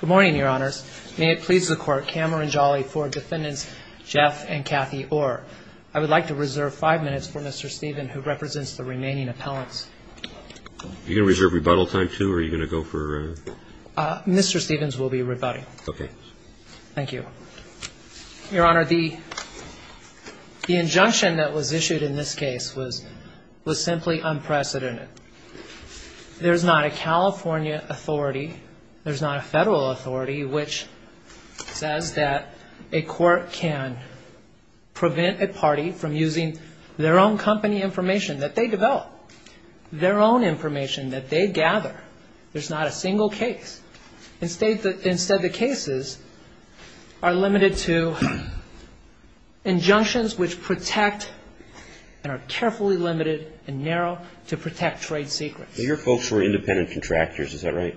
Good morning, Your Honors. May it please the Court, Cameron Jolly, Ford Defendants Jeff and Kathy Orr. I would like to reserve five minutes for Mr. Stephens, who represents the remaining appellants. Are you going to reserve rebuttal time, too, or are you going to go for a... Mr. Stephens will be rebutting. Okay. Thank you. Your Honor, the injunction that was issued in this case was simply unprecedented. There's not a California authority, there's not a federal authority, which says that a court can prevent a party from using their own company information that they develop. Their own information that they gather, there's not a single case. Instead, the cases are limited to injunctions which protect and are carefully limited and narrow to protect trade secrets. Your folks were independent contractors, is that right?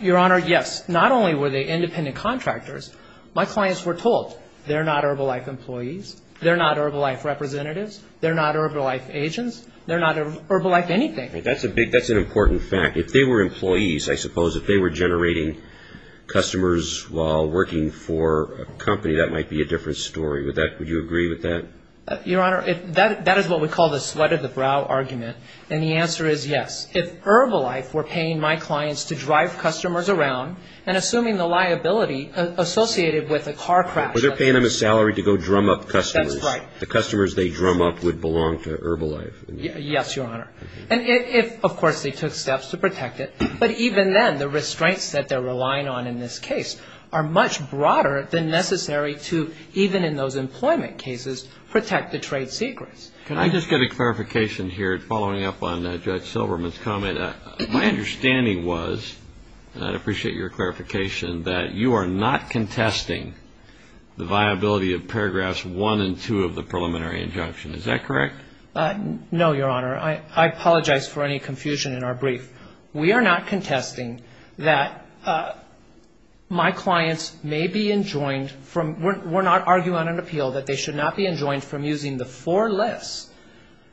Your Honor, yes. Not only were they independent contractors, my clients were told they're not Herbalife employees, they're not Herbalife representatives, they're not Herbalife agents, they're not Herbalife anything. That's an important fact. If they were employees, I suppose, if they were generating customers while working for a company, that might be a different story. Would you agree with that? Your Honor, that is what we call the sweat of the brow argument, and the answer is yes. If Herbalife were paying my clients to drive customers around and assuming the liability associated with a car crash... But they're paying them a salary to go drum up customers. That's right. The customers they drum up would belong to Herbalife. Yes, Your Honor. And if, of course, they took steps to protect it, but even then, the restraints that they're relying on in this case are much broader than necessary to, even in those employment cases, protect the trade secrets. Can I just get a clarification here, following up on Judge Silverman's comment? My understanding was, and I'd appreciate your clarification, that you are not contesting the viability of paragraphs one and two of the preliminary injunction. Is that correct? No, Your Honor. I apologize for any confusion in our brief. We are not contesting that my clients may be enjoined from, we're not arguing on an appeal that they should not be enjoined from using the four lists,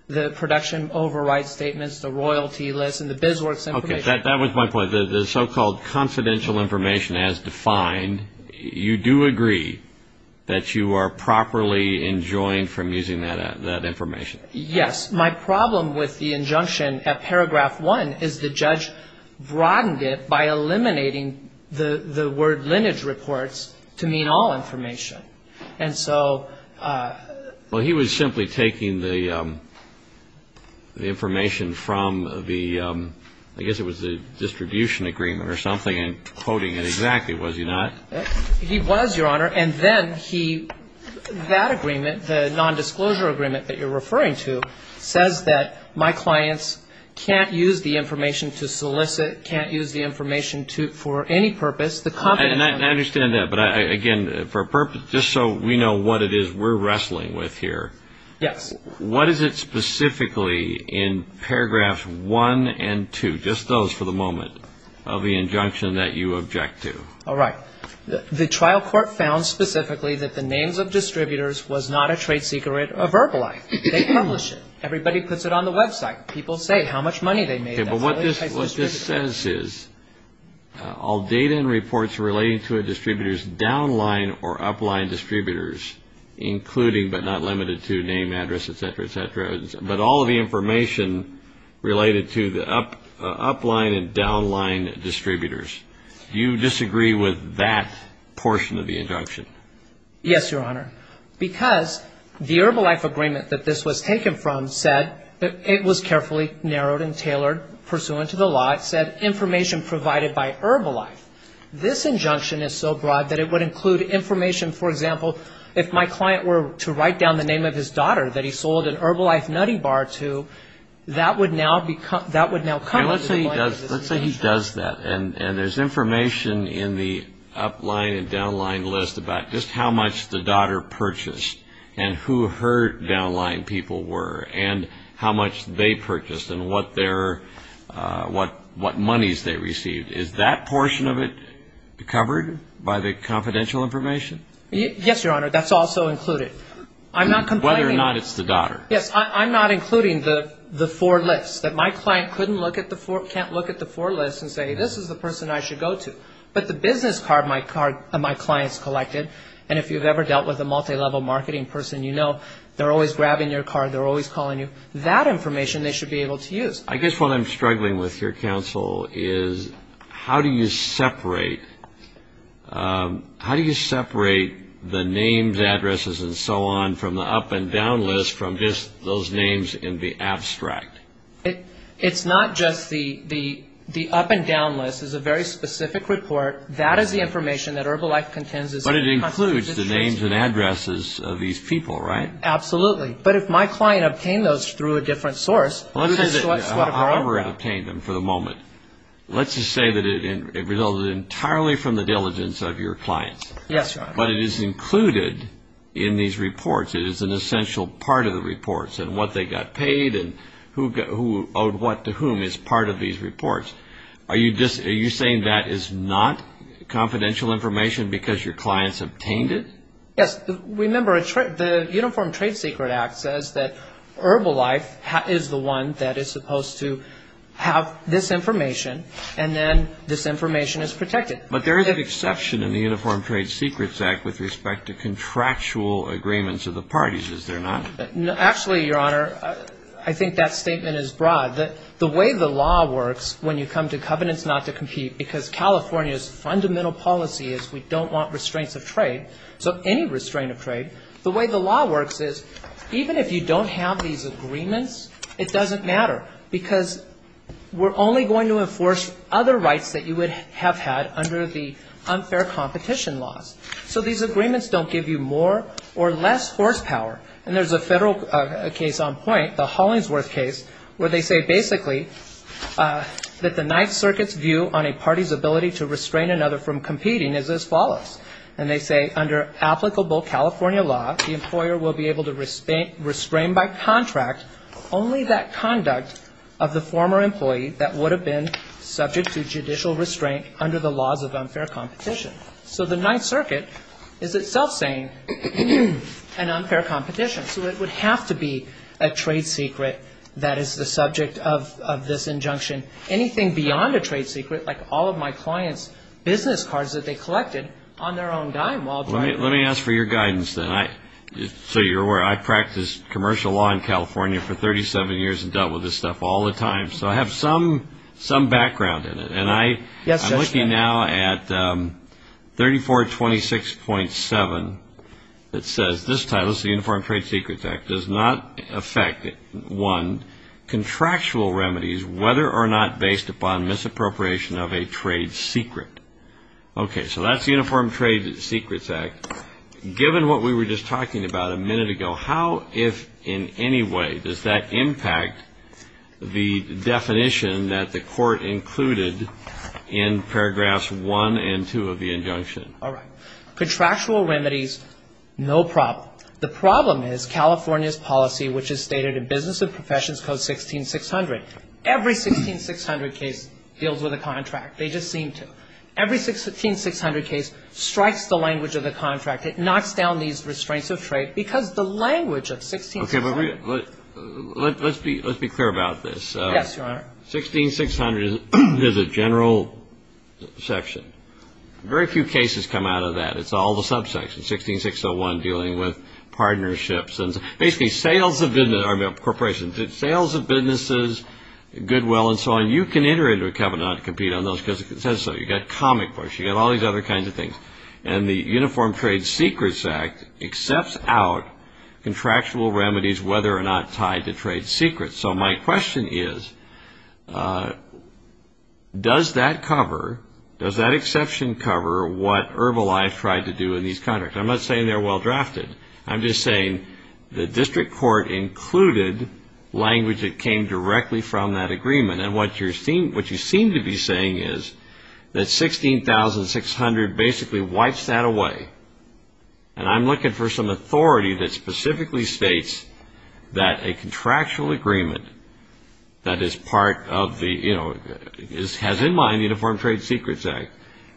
the production override statements, the royalty list, and the biz works information. That was my point. The so-called confidential information as defined, you do agree that you are properly enjoined from using that information? Yes. My problem with the injunction at paragraph one is the judge broadened it by eliminating the word lineage reports to mean all information. And so... Well, he was simply taking the information from the, I guess it was the distribution agreement or something and quoting it exactly, was he not? He was, Your Honor. And then he, that agreement, the nondisclosure agreement that you're referring to, says that my clients can't use the information to solicit, can't use the information for any purpose. I understand that. But again, for a purpose, just so we know what it is we're wrestling with here. Yes. What is it specifically in paragraphs one and two, just those for the moment, of the injunction that you object to? All right. The trial court found specifically that the names of distributors was not a trade secret or verbalized. They publish it. Everybody puts it on the website. People say how much money they made. Okay. But what this says is all data and reports relating to a distributor's downline or upline distributors, including but not limited to name, address, et cetera, et cetera, but all of the information related to the upline and downline distributors. Do you disagree with that portion of the injunction? Yes, Your Honor. Because the Herbalife agreement that this was taken from said that it was carefully narrowed and tailored pursuant to the law. It said information provided by Herbalife. This injunction is so broad that it would include information, for example, if my client were to write down the name of his daughter that he sold an Herbalife nutty bar to, that would now become, that would now come under the blame of this injunction. Let's say he does that and there's information in the upline and downline list about just how much the daughter purchased and who her downline people were and how much they purchased and what their, what monies they received. Is that portion of it covered by the confidential information? Yes, Your Honor. That's also included. I'm not complaining. Whether or not it's the daughter. Yes, I'm not including the four lists, that my client couldn't look at the four, can't look at the four lists and say, this is the person I should go to. But the business card my clients collected, and if you've ever dealt with a multi-level marketing person, you know they're always grabbing your card, they're always calling you. That information they should be able to use. I guess what I'm struggling with here, counsel, is how do you separate, how do you separate the names, addresses, and so on from the up and down list from just those names in the abstract? It's not just the up and down list. It's a very specific report. That is the information that Herbalife contains. But it includes the names and addresses of these people, right? Absolutely. But if my client obtained those through a different source. Let's say that Auburn obtained them for the moment. Let's just say that it resulted entirely from the diligence of your clients. Yes, Your Honor. But it is included in these reports. It is an essential part of the reports, and what they got paid, and who owed what to whom is part of these reports. Are you saying that is not confidential information because your clients obtained it? Yes. Remember, the Uniform Trade Secrets Act says that Herbalife is the one that is supposed to have this information, and then this information is protected. But there is an exception in the Uniform Trade Secrets Act with respect to contractual agreements of the parties, is there not? Actually, Your Honor, I think that statement is broad. The way the law works when you come to covenants not to compete, because California's fundamental policy is we don't want restraints of trade. So any restraint of trade. The way the law works is even if you don't have these agreements, it doesn't matter. Because we're only going to enforce other rights that you would have had under the unfair competition laws. So these agreements don't give you more or less horsepower. And there's a federal case on point, the Hollingsworth case, where they say basically that the Ninth Circuit's view on a party's ability to restrain another from competing is as follows. And they say under applicable California law, the employer will be able to restrain by contract only that conduct of the former employee that would have been subject to judicial restraint under the laws of unfair competition. So the Ninth Circuit is itself saying an unfair competition. So it would have to be a trade secret that is the subject of this injunction. Anything beyond a trade secret, like all of my clients' business cards that they collected on their own dime while driving. Let me ask for your guidance then. So you're aware I practiced commercial law in California for 37 years and dealt with this stuff all the time. So I have some background in it. And I'm looking now at 3426.7 that says this title, the Uniform Trade Secrets Act, does not affect, one, contractual remedies whether or not based upon misappropriation of a trade secret. Okay, so that's the Uniform Trade Secrets Act. Given what we were just talking about a minute ago, how, if in any way, does that impact the definition that the court included in paragraphs one and two of the injunction? All right. Contractual remedies, no problem. The problem is California's policy, which is stated in Business and Professions Code 16600. Every 16600 case deals with a contract. They just seem to. Every 16600 case strikes the language of the contract. It knocks down these restraints of trade because the language of 16600. Okay, but let's be clear about this. Yes, Your Honor. 16600 is a general section. Very few cases come out of that. It's all the subsections. 16601 dealing with partnerships and basically sales of business or corporations, sales of businesses, Goodwill and so on. You can enter into a covenant and compete on those because it says so. You've got comic books. You've got all these other kinds of things. And the Uniform Trade Secrets Act accepts out contractual remedies whether or not tied to trade secrets. So my question is, does that cover, does that exception cover what Herbalife tried to do in these contracts? I'm not saying they're well-drafted. I'm just saying the district court included language that came directly from that agreement. And what you seem to be saying is that 16600 basically wipes that away. And I'm looking for some authority that specifically states that a contractual agreement that is part of the, you know, has in mind the Uniform Trade Secrets Act,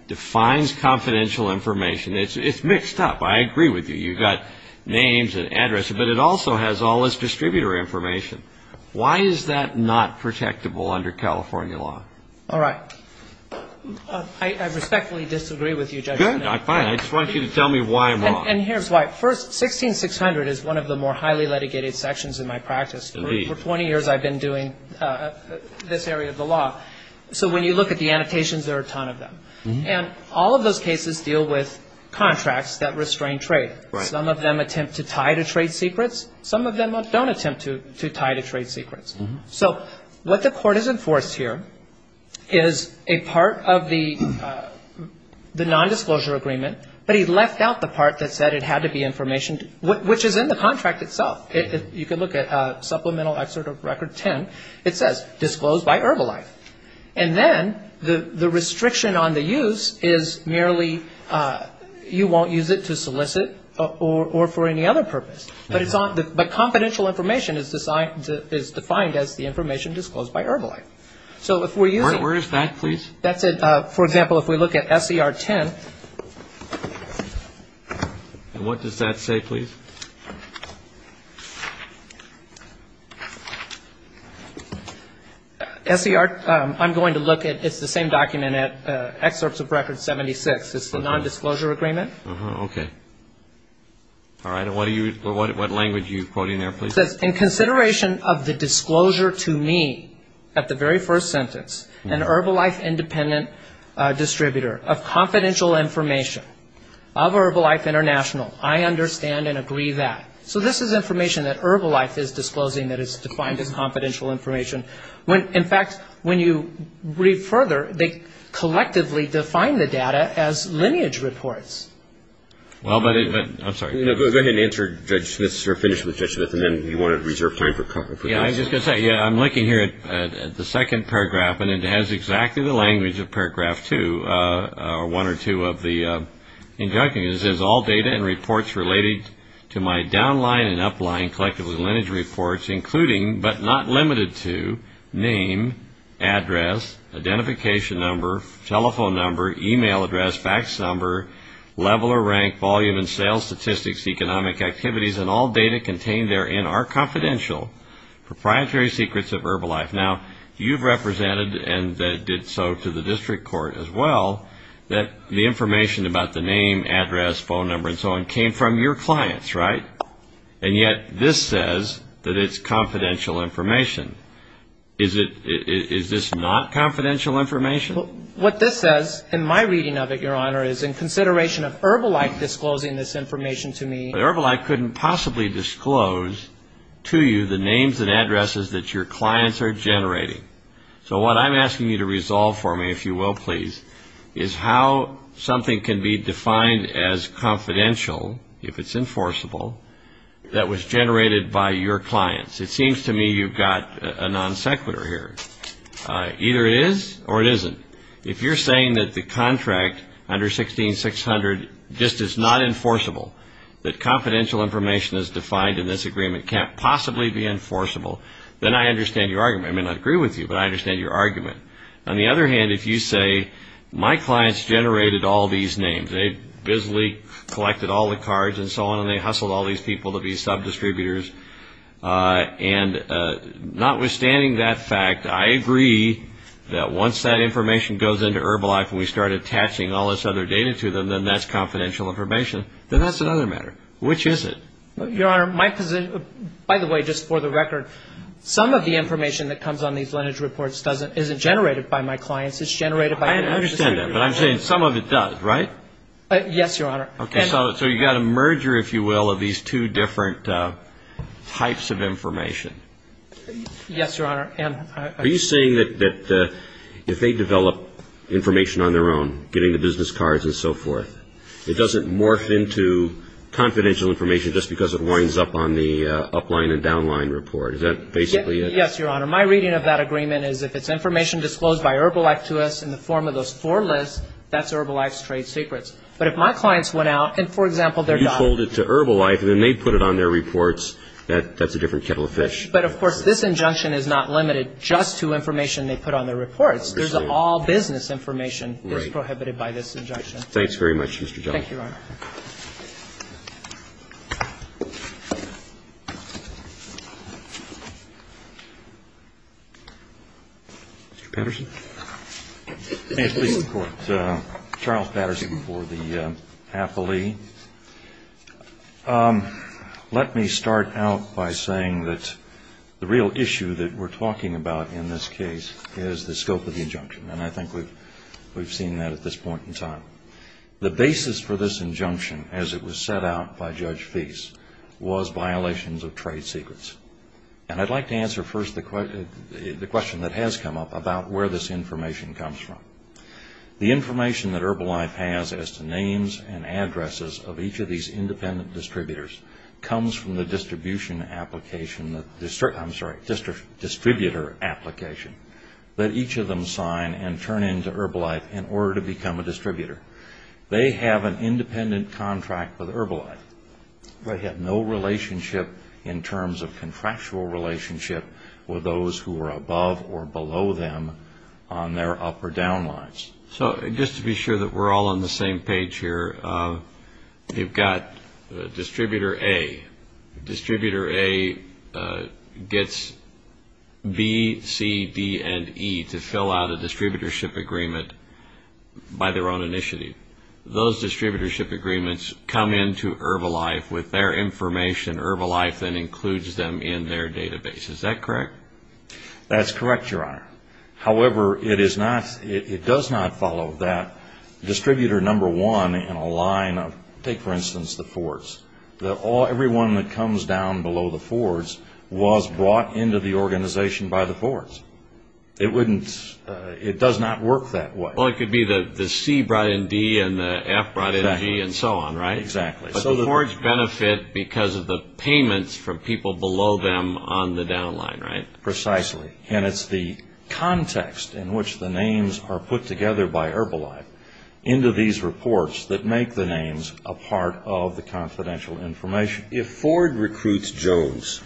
defines confidential information. It's mixed up. I agree with you. You've got names and addresses. But it also has all this distributor information. Why is that not protectable under California law? All right. I respectfully disagree with you, Judge. Good. Fine. I just want you to tell me why I'm wrong. And here's why. First, 16600 is one of the more highly litigated sections in my practice. Indeed. For 20 years I've been doing this area of the law. So when you look at the annotations, there are a ton of them. And all of those cases deal with contracts that restrain trade. Right. Some of them attempt to tie to trade secrets. Some of them don't attempt to tie to trade secrets. So what the court has enforced here is a part of the nondisclosure agreement, but he left out the part that said it had to be information which is in the contract itself. You can look at Supplemental Excerpt of Record 10. It says disclosed by Herbalife. And then the restriction on the use is merely you won't use it to solicit or for any other purpose. But confidential information is defined as the information disclosed by Herbalife. Where is that, please? For example, if we look at SCR 10. And what does that say, please? SCR, I'm going to look at, it's the same document, Excerpts of Record 76. It's the nondisclosure agreement. Okay. All right. And what language are you quoting there, please? It says in consideration of the disclosure to me at the very first sentence, an Herbalife independent distributor of confidential information of Herbalife International, I understand and agree that. So this is information that Herbalife is disclosing that is defined as confidential information. In fact, when you read further, they collectively define the data as lineage reports. Well, but it, I'm sorry. No, go ahead and answer Judge Smith's, or finish with Judge Smith, and then you want to reserve time for questions. Yeah, I was just going to say, yeah, I'm looking here at the second paragraph, and it has exactly the language of paragraph two, or one or two of the injunctions. It says all data and reports related to my downline and upline collectively lineage reports, including but not limited to name, address, identification number, telephone number, e-mail address, fax number, level or rank, volume and sales statistics, economic activities, and all data contained therein are confidential, proprietary secrets of Herbalife. Now, you've represented and did so to the district court as well, that the information about the name, address, phone number and so on came from your clients, right? And yet this says that it's confidential information. Is this not confidential information? What this says, in my reading of it, Your Honor, is in consideration of Herbalife disclosing this information to me. Herbalife couldn't possibly disclose to you the names and addresses that your clients are generating. So what I'm asking you to resolve for me, if you will, please, is how something can be defined as confidential, if it's enforceable, that was generated by your clients. It seems to me you've got a non sequitur here. Either it is or it isn't. If you're saying that the contract under 16-600 just is not enforceable, that confidential information as defined in this agreement can't possibly be enforceable, then I understand your argument. I may not agree with you, but I understand your argument. On the other hand, if you say my clients generated all these names, they busily collected all the cards and so on, and they hustled all these people to be sub-distributors, and notwithstanding that fact, I agree that once that information goes into Herbalife and we start attaching all this other data to them, then that's confidential information. Then that's another matter. Which is it? Your Honor, my position, by the way, just for the record, some of the information that comes on these lineage reports isn't generated by my clients. It's generated by the non sequitur. I understand that, but I'm saying some of it does, right? Yes, Your Honor. Okay. So you've got a merger, if you will, of these two different types of information. Yes, Your Honor. Are you saying that if they develop information on their own, getting the business cards and so forth, it doesn't morph into confidential information just because it winds up on the upline and downline report? Is that basically it? Yes, Your Honor. My reading of that agreement is if it's information disclosed by Herbalife to us in the form of those four lists, that's Herbalife's trade secrets. But if my clients went out and, for example, they're done. You hold it to Herbalife and then they put it on their reports, that's a different kettle of fish. But, of course, this injunction is not limited just to information they put on their reports. There's all business information that's prohibited by this injunction. Thanks very much, Mr. Johnson. Thank you, Your Honor. Mr. Patterson. May it please the Court. Charles Patterson for the appellee. Let me start out by saying that the real issue that we're talking about in this case is the scope of the injunction. And I think we've seen that at this point in time. The basis for this injunction, as it was set out by Judge Feist, was violations of trade secrets. And I'd like to answer first the question that has come up about where this information comes from. The information that Herbalife has as to names and addresses of each of these independent distributors comes from the distribution application, I'm sorry, distributor application that each of them sign and turn into Herbalife in order to become a distributor. They have an independent contract with Herbalife. They have no relationship in terms of contractual relationship with those who are above or below them on their up or down lines. So, just to be sure that we're all on the same page here, you've got distributor A. Distributor A gets B, C, D, and E to fill out a distributorship agreement by their own initiative. Those distributorship agreements come into Herbalife with their information, Herbalife then includes them in their database. Is that correct? That's correct, Your Honor. However, it does not follow that distributor number one in a line of, take for instance the Fords. Everyone that comes down below the Fords was brought into the organization by the Fords. It does not work that way. Well, it could be the C brought in D and the F brought in G and so on, right? Exactly. But the Fords benefit because of the payments from people below them on the down line, right? Precisely. And it's the context in which the names are put together by Herbalife into these reports that make the names a part of the confidential information. If Ford recruits Jones,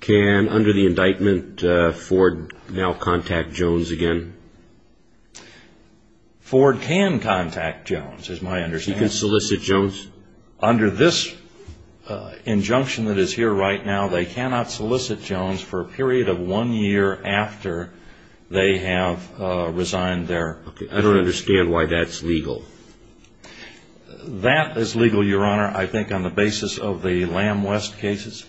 can, under the indictment, Ford now contact Jones again? Ford can contact Jones, is my understanding. He can solicit Jones? Under this injunction that is here right now, they cannot solicit Jones for a period of one year after they have resigned their position. Okay. I don't understand why that's legal. That is legal, Your Honor, I think on the basis of the Lamb West cases.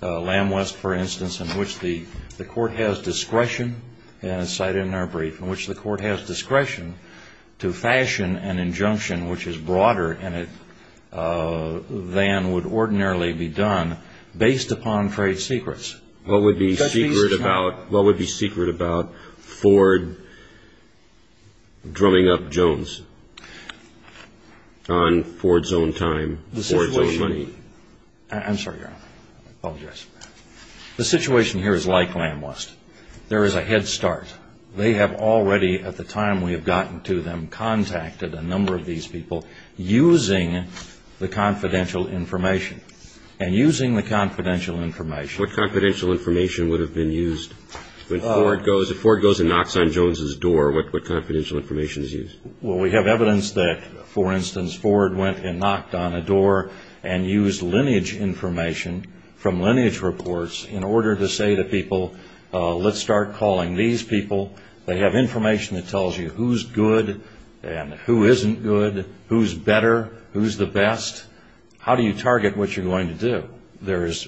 Lamb West, for instance, in which the court has discretion, as cited in our brief, in which the court has discretion to fashion an injunction which is broader than would ordinarily be done based upon trade secrets. What would be secret about Ford drumming up Jones on Ford's own time, Ford's own money? I'm sorry, Your Honor. I apologize. The situation here is like Lamb West. There is a head start. They have already, at the time we have gotten to them, contacted a number of these people using the confidential information. And using the confidential information. What confidential information would have been used? If Ford goes and knocks on Jones' door, what confidential information is used? Well, we have evidence that, for instance, Ford went and knocked on a door and used lineage information from lineage reports in order to say to people, let's start calling these people. They have information that tells you who's good and who isn't good, who's better, who's the best. How do you target what you're going to do? There is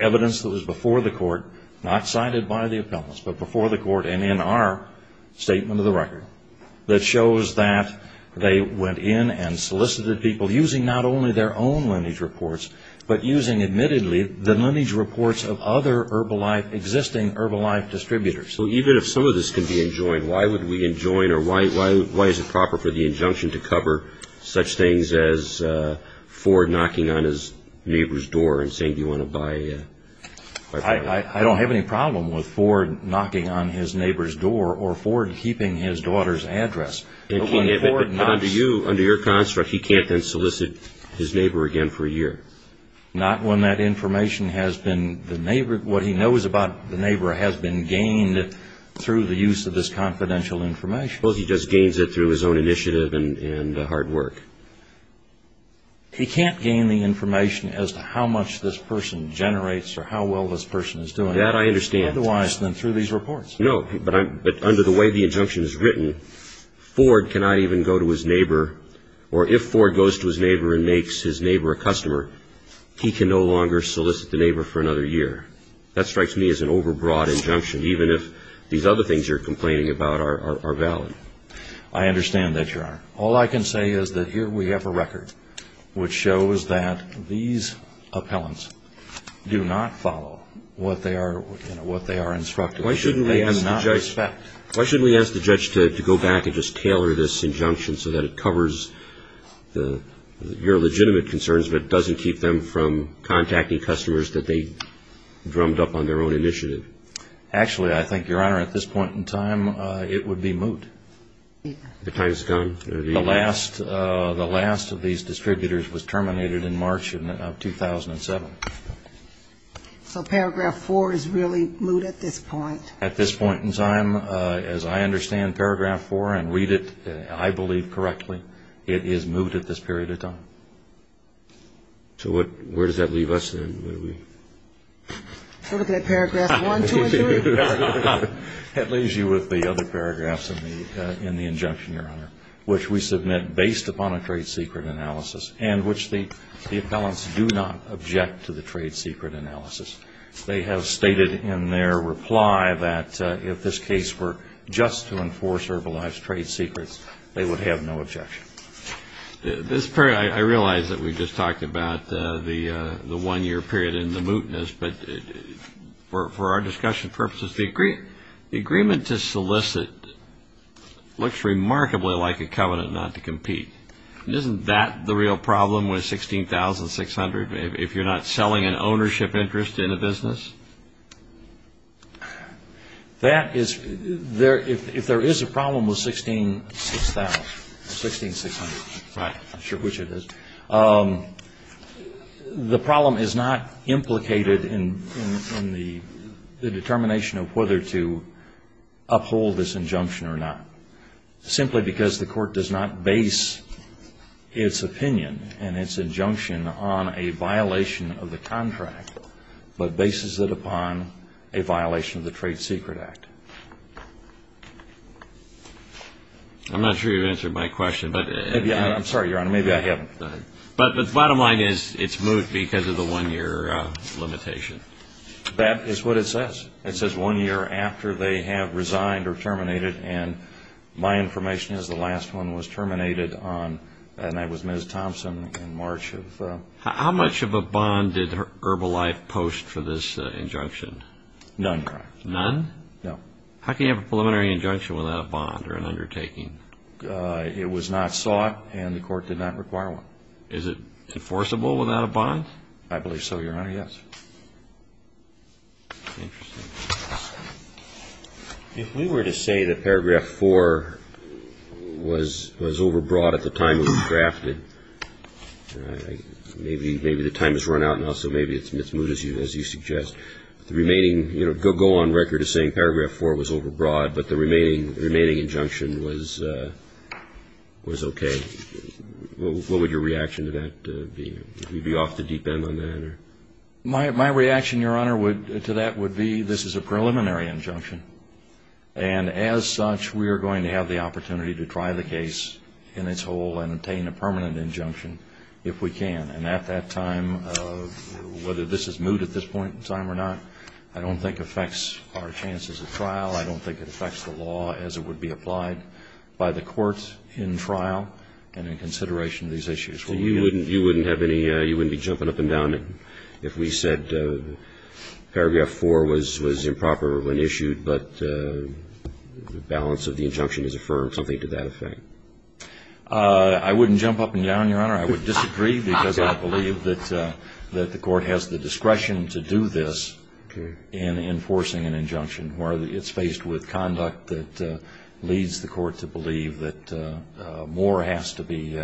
evidence that was before the court, not cited by the appellants, but before the court and in our statement of the record, that shows that they went in and solicited people using not only their own lineage reports, but using, admittedly, the lineage reports of other existing Herbalife distributors. Even if some of this can be enjoined, why would we enjoin or why is it proper for the injunction to cover such things as Ford knocking on his neighbor's door and saying, do you want to buy? I don't have any problem with Ford knocking on his neighbor's door or Ford keeping his daughter's address. But under your construct, he can't then solicit his neighbor again for a year. Not when that information has been, what he knows about the neighbor has been gained through the use of this confidential information. Well, he just gains it through his own initiative and hard work. He can't gain the information as to how much this person generates or how well this person is doing. That I understand. Otherwise than through these reports. No, but under the way the injunction is written, Ford cannot even go to his neighbor or if Ford goes to his neighbor and makes his neighbor a customer, he can no longer solicit the neighbor for another year. That strikes me as an overbroad injunction, even if these other things you're complaining about are valid. I understand that, Your Honor. All I can say is that here we have a record which shows that these appellants do not follow what they are instructed. Why shouldn't we ask the judge to go back and just tailor this injunction so that it covers your legitimate concerns but doesn't keep them from contacting customers that they drummed up on their own initiative? Actually, I think, Your Honor, at this point in time, it would be moot. The time has gone. The last of these distributors was terminated in March of 2007. So Paragraph 4 is really moot at this point? At this point in time, as I understand Paragraph 4 and read it, I believe, correctly, it is moot at this period of time. So where does that leave us? Paragraph 1, 2, and 3? That leaves you with the other paragraphs in the injunction, Your Honor, which we submit based upon a trade secret analysis and which the appellants do not object to the trade secret analysis. They have stated in their reply that if this case were just to enforce Herbalife's trade secrets, they would have no objection. I realize that we just talked about the one-year period and the mootness, but for our discussion purposes, the agreement to solicit looks remarkably like a covenant not to compete. Isn't that the real problem with 16,600, if you're not selling an ownership interest in a business? That is, if there is a problem with 16,600, I'm not sure which it is, the problem is not implicated in the determination of whether to uphold this injunction or not, simply because the court does not base its opinion and its injunction on a violation of the contract, but bases it upon a violation of the Trade Secret Act. I'm not sure you've answered my question. I'm sorry, Your Honor, maybe I haven't. Go ahead. But the bottom line is it's moot because of the one-year limitation. That is what it says. It says one year after they have resigned or terminated, and my information is the last one was terminated on, and that was Ms. Thompson in March of... How much of a bond did Herbalife post for this injunction? None, Your Honor. None? No. How can you have a preliminary injunction without a bond or an undertaking? It was not sought, and the court did not require one. Is it enforceable without a bond? I believe so, Your Honor, yes. Interesting. If we were to say that Paragraph 4 was overbroad at the time it was drafted, maybe the time has run out now, so maybe it's moot, as you suggest. The remaining, you know, go on record as saying Paragraph 4 was overbroad, but the remaining injunction was okay. What would your reaction to that be? Would you be off the deep end on that? My reaction, Your Honor, to that would be this is a preliminary injunction, and as such we are going to have the opportunity to try the case in its whole and obtain a permanent injunction if we can. And at that time, whether this is moot at this point in time or not, I don't think affects our chances at trial. I don't think it affects the law as it would be applied by the court in trial and in consideration of these issues. So you wouldn't be jumping up and down if we said Paragraph 4 was improper when issued, but the balance of the injunction is affirmed, something to that effect? I wouldn't jump up and down, Your Honor. I would disagree because I believe that the court has the discretion to do this in enforcing an injunction where it's faced with conduct that leads the court to believe that more has to be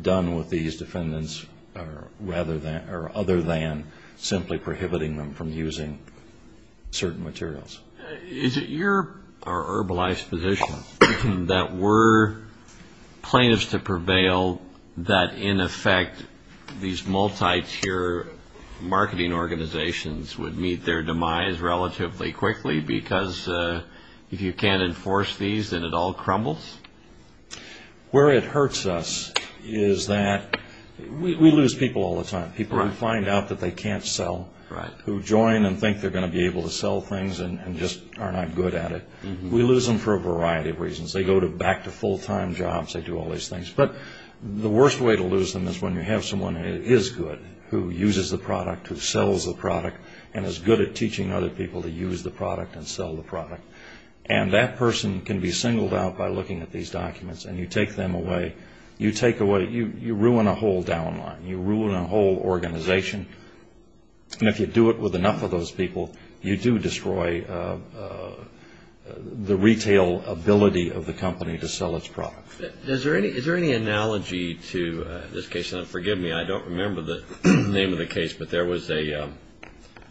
done with these defendants rather than or other than simply prohibiting them from using certain materials. Is it your or Herbalife's position that were plaintiffs to prevail, that in effect these multi-tier marketing organizations would meet their demise relatively quickly because if you can't enforce these, then it all crumbles? Where it hurts us is that we lose people all the time, people who find out that they can't sell, who join and think they're going to be able to sell things and just are not good at it. We lose them for a variety of reasons. They go back to full-time jobs. They do all these things. But the worst way to lose them is when you have someone who is good, who uses the product, who sells the product and is good at teaching other people to use the product and sell the product. And that person can be singled out by looking at these documents and you take them away. You take away, you ruin a whole down line. You ruin a whole organization. And if you do it with enough of those people, you do destroy the retail ability of the company to sell its product. Is there any analogy to this case? And forgive me, I don't remember the name of the case, but there was a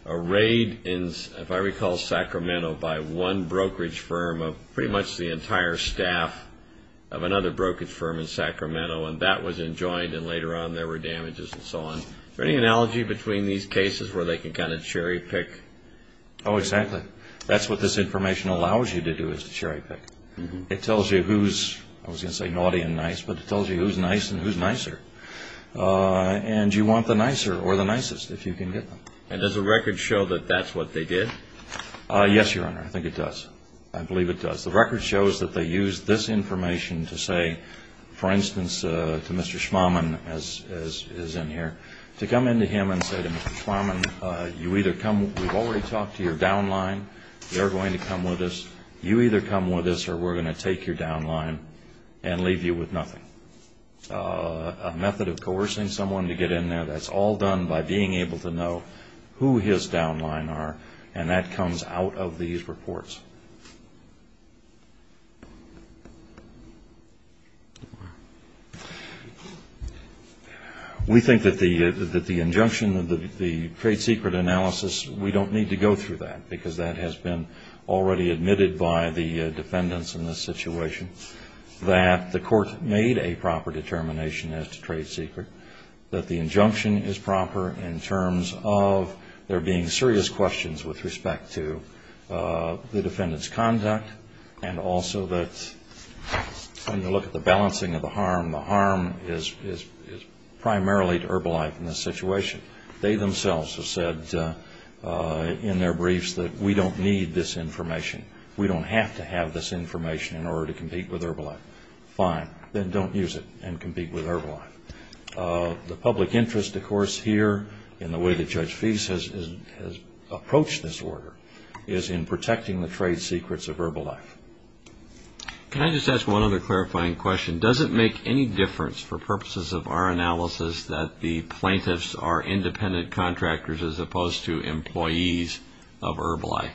raid in, if I recall, Sacramento by one brokerage firm, pretty much the entire staff of another brokerage firm in Sacramento, and that was enjoined and later on there were damages and so on. Is there any analogy between these cases where they can kind of cherry pick? Oh, exactly. That's what this information allows you to do is to cherry pick. It tells you who's, I was going to say naughty and nice, but it tells you who's nice and who's nicer. And you want the nicer or the nicest if you can get them. And does the record show that that's what they did? Yes, Your Honor. I think it does. I believe it does. The record shows that they used this information to say, for instance, to Mr. Schwammen, as is in here, to come in to him and say to Mr. Schwammen, you either come, we've already talked to your down line, they're going to come with us, you either come with us or we're going to take your down line and leave you with nothing. A method of coercing someone to get in there, that's all done by being able to know who his down line are, and that comes out of these reports. We think that the injunction, the trade secret analysis, we don't need to go through that because that has been already admitted by the defendants in this situation, that the court made a proper determination as to trade secret, that the injunction is proper in terms of there being serious questions with respect to the defendant's conduct and also that when you look at the balancing of the harm, the harm is primarily to Herbalife in this situation. They themselves have said in their briefs that we don't need this information, we don't have to have this information in order to compete with Herbalife. Fine, then don't use it and compete with Herbalife. The public interest, of course, here in the way that Judge Fease has approached this order is in protecting the trade secrets of Herbalife. Can I just ask one other clarifying question? Does it make any difference for purposes of our analysis that the plaintiffs are independent contractors as opposed to employees of Herbalife?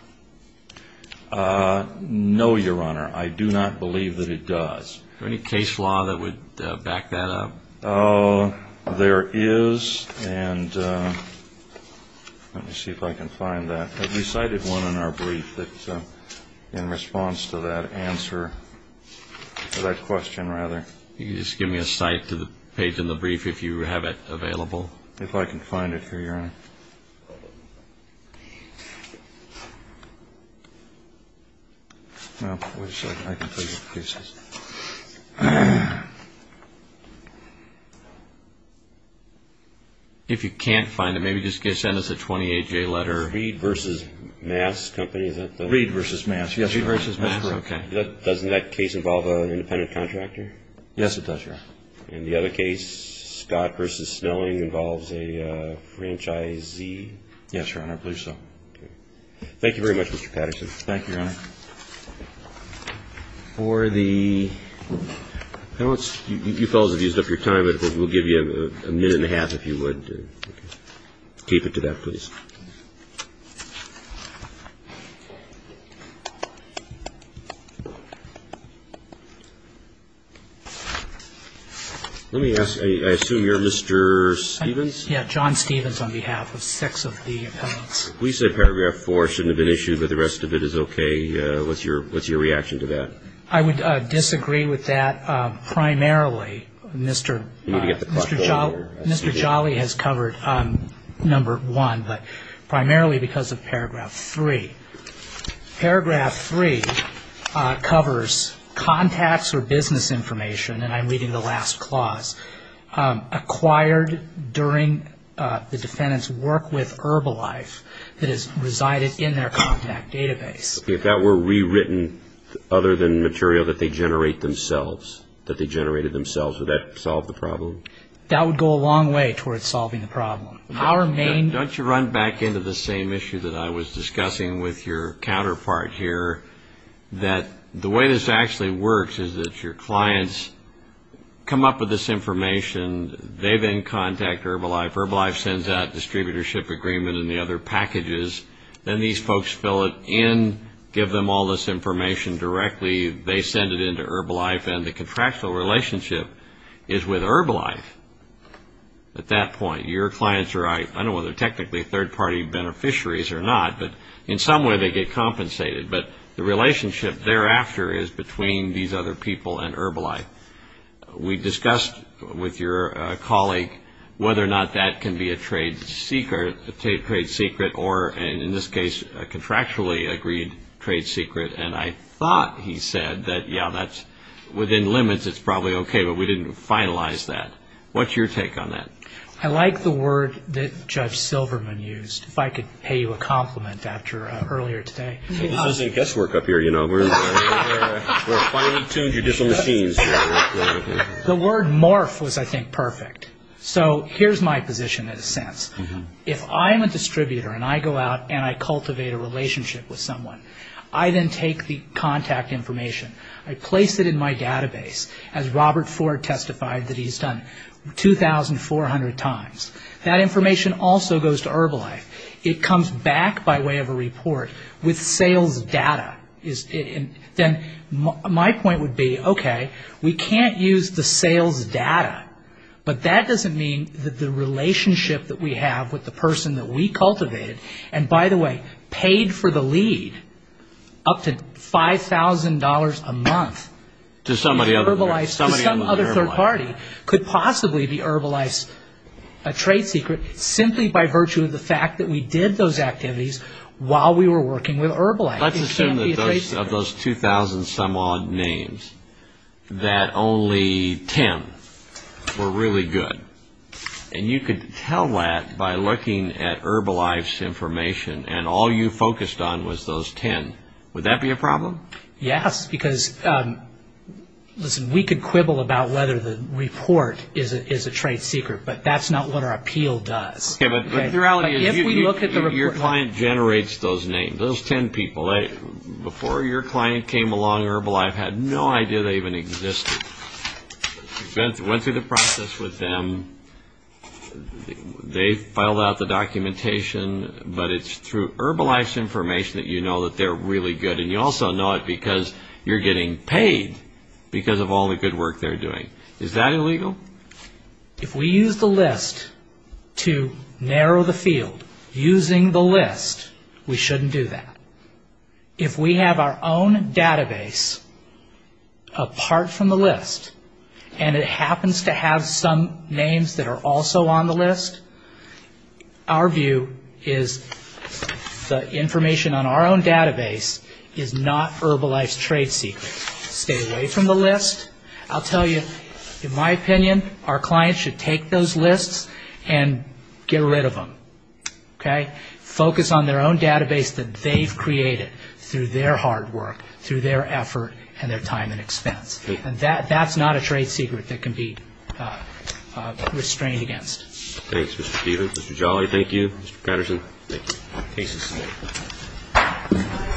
No, Your Honor, I do not believe that it does. Is there any case law that would back that up? There is, and let me see if I can find that. We cited one in our brief that in response to that answer, that question rather. Can you just give me a cite to the page in the brief if you have it available? If I can find it here, Your Honor. If you can't find it, maybe just send us a 28-J letter. Reed v. Mass Company, is that the one? Reed v. Mass, yes. Reed v. Mass, okay. Doesn't that case involve an independent contractor? Yes, it does, Your Honor. And the other case, Scott v. Snelling, involves a franchisee? Yes, Your Honor, I believe so. Thank you very much, Mr. Patterson. Thank you, Your Honor. For the ñ you fellows have used up your time, but we'll give you a minute and a half if you would keep it to that, please. Let me ask, I assume you're Mr. Stevens? Yes, John Stevens on behalf of six of the appellants. We said paragraph four shouldn't have been issued, but the rest of it is okay. What's your reaction to that? I would disagree with that primarily. Mr. Jolly has covered number one. But primarily because of paragraph three. Paragraph three covers contacts or business information, and I'm reading the last clause, acquired during the defendant's work with Herbalife that has resided in their contact database. If that were rewritten other than material that they generate themselves, that they generated themselves, would that solve the problem? That would go a long way towards solving the problem. Don't you run back into the same issue that I was discussing with your counterpart here, that the way this actually works is that your clients come up with this information. They then contact Herbalife. Herbalife sends out a distributorship agreement and the other packages. Then these folks fill it in, give them all this information directly. They send it in to Herbalife, and the contractual relationship is with Herbalife at that point. Your clients are, I don't know whether they're technically third-party beneficiaries or not, but in some way they get compensated. But the relationship thereafter is between these other people and Herbalife. We discussed with your colleague whether or not that can be a trade secret or, in this case, a contractually agreed trade secret. And I thought he said that, yeah, within limits it's probably okay, but we didn't finalize that. What's your take on that? I like the word that Judge Silverman used. If I could pay you a compliment after earlier today. This isn't guesswork up here, you know. We're finely tuned judicial machines. The word morph was, I think, perfect. So here's my position in a sense. If I'm a distributor and I go out and I cultivate a relationship with someone, I then take the contact information, I place it in my database, as Robert Ford testified that he's done 2,400 times. That information also goes to Herbalife. It comes back by way of a report with sales data. Then my point would be, okay, we can't use the sales data, but that doesn't mean that the relationship that we have with the person that we cultivated, and by the way, paid for the lead up to $5,000 a month to some other third party, could possibly be Herbalife's trade secret simply by virtue of the fact that we did those activities while we were working with Herbalife. Let's assume that of those 2,000 some odd names, that only 10 were really good. You could tell that by looking at Herbalife's information, and all you focused on was those 10. Would that be a problem? Yes, because we could quibble about whether the report is a trade secret, but that's not what our appeal does. The reality is your client generates those names, those 10 people. Before your client came along, Herbalife had no idea they even existed. You went through the process with them, they filed out the documentation, but it's through Herbalife's information that you know that they're really good, and you also know it because you're getting paid because of all the good work they're doing. Is that illegal? If we use the list to narrow the field, using the list, we shouldn't do that. If we have our own database apart from the list, and it happens to have some names that are also on the list, our view is the information on our own database is not Herbalife's trade secret. Stay away from the list. I'll tell you, in my opinion, our clients should take those lists and get rid of them. Focus on their own database that they've created through their hard work, through their effort, and their time and expense. And that's not a trade secret that can be restrained against. Thanks, Mr. Stevenson. Mr. Jolly, thank you. Mr. Patterson, thank you.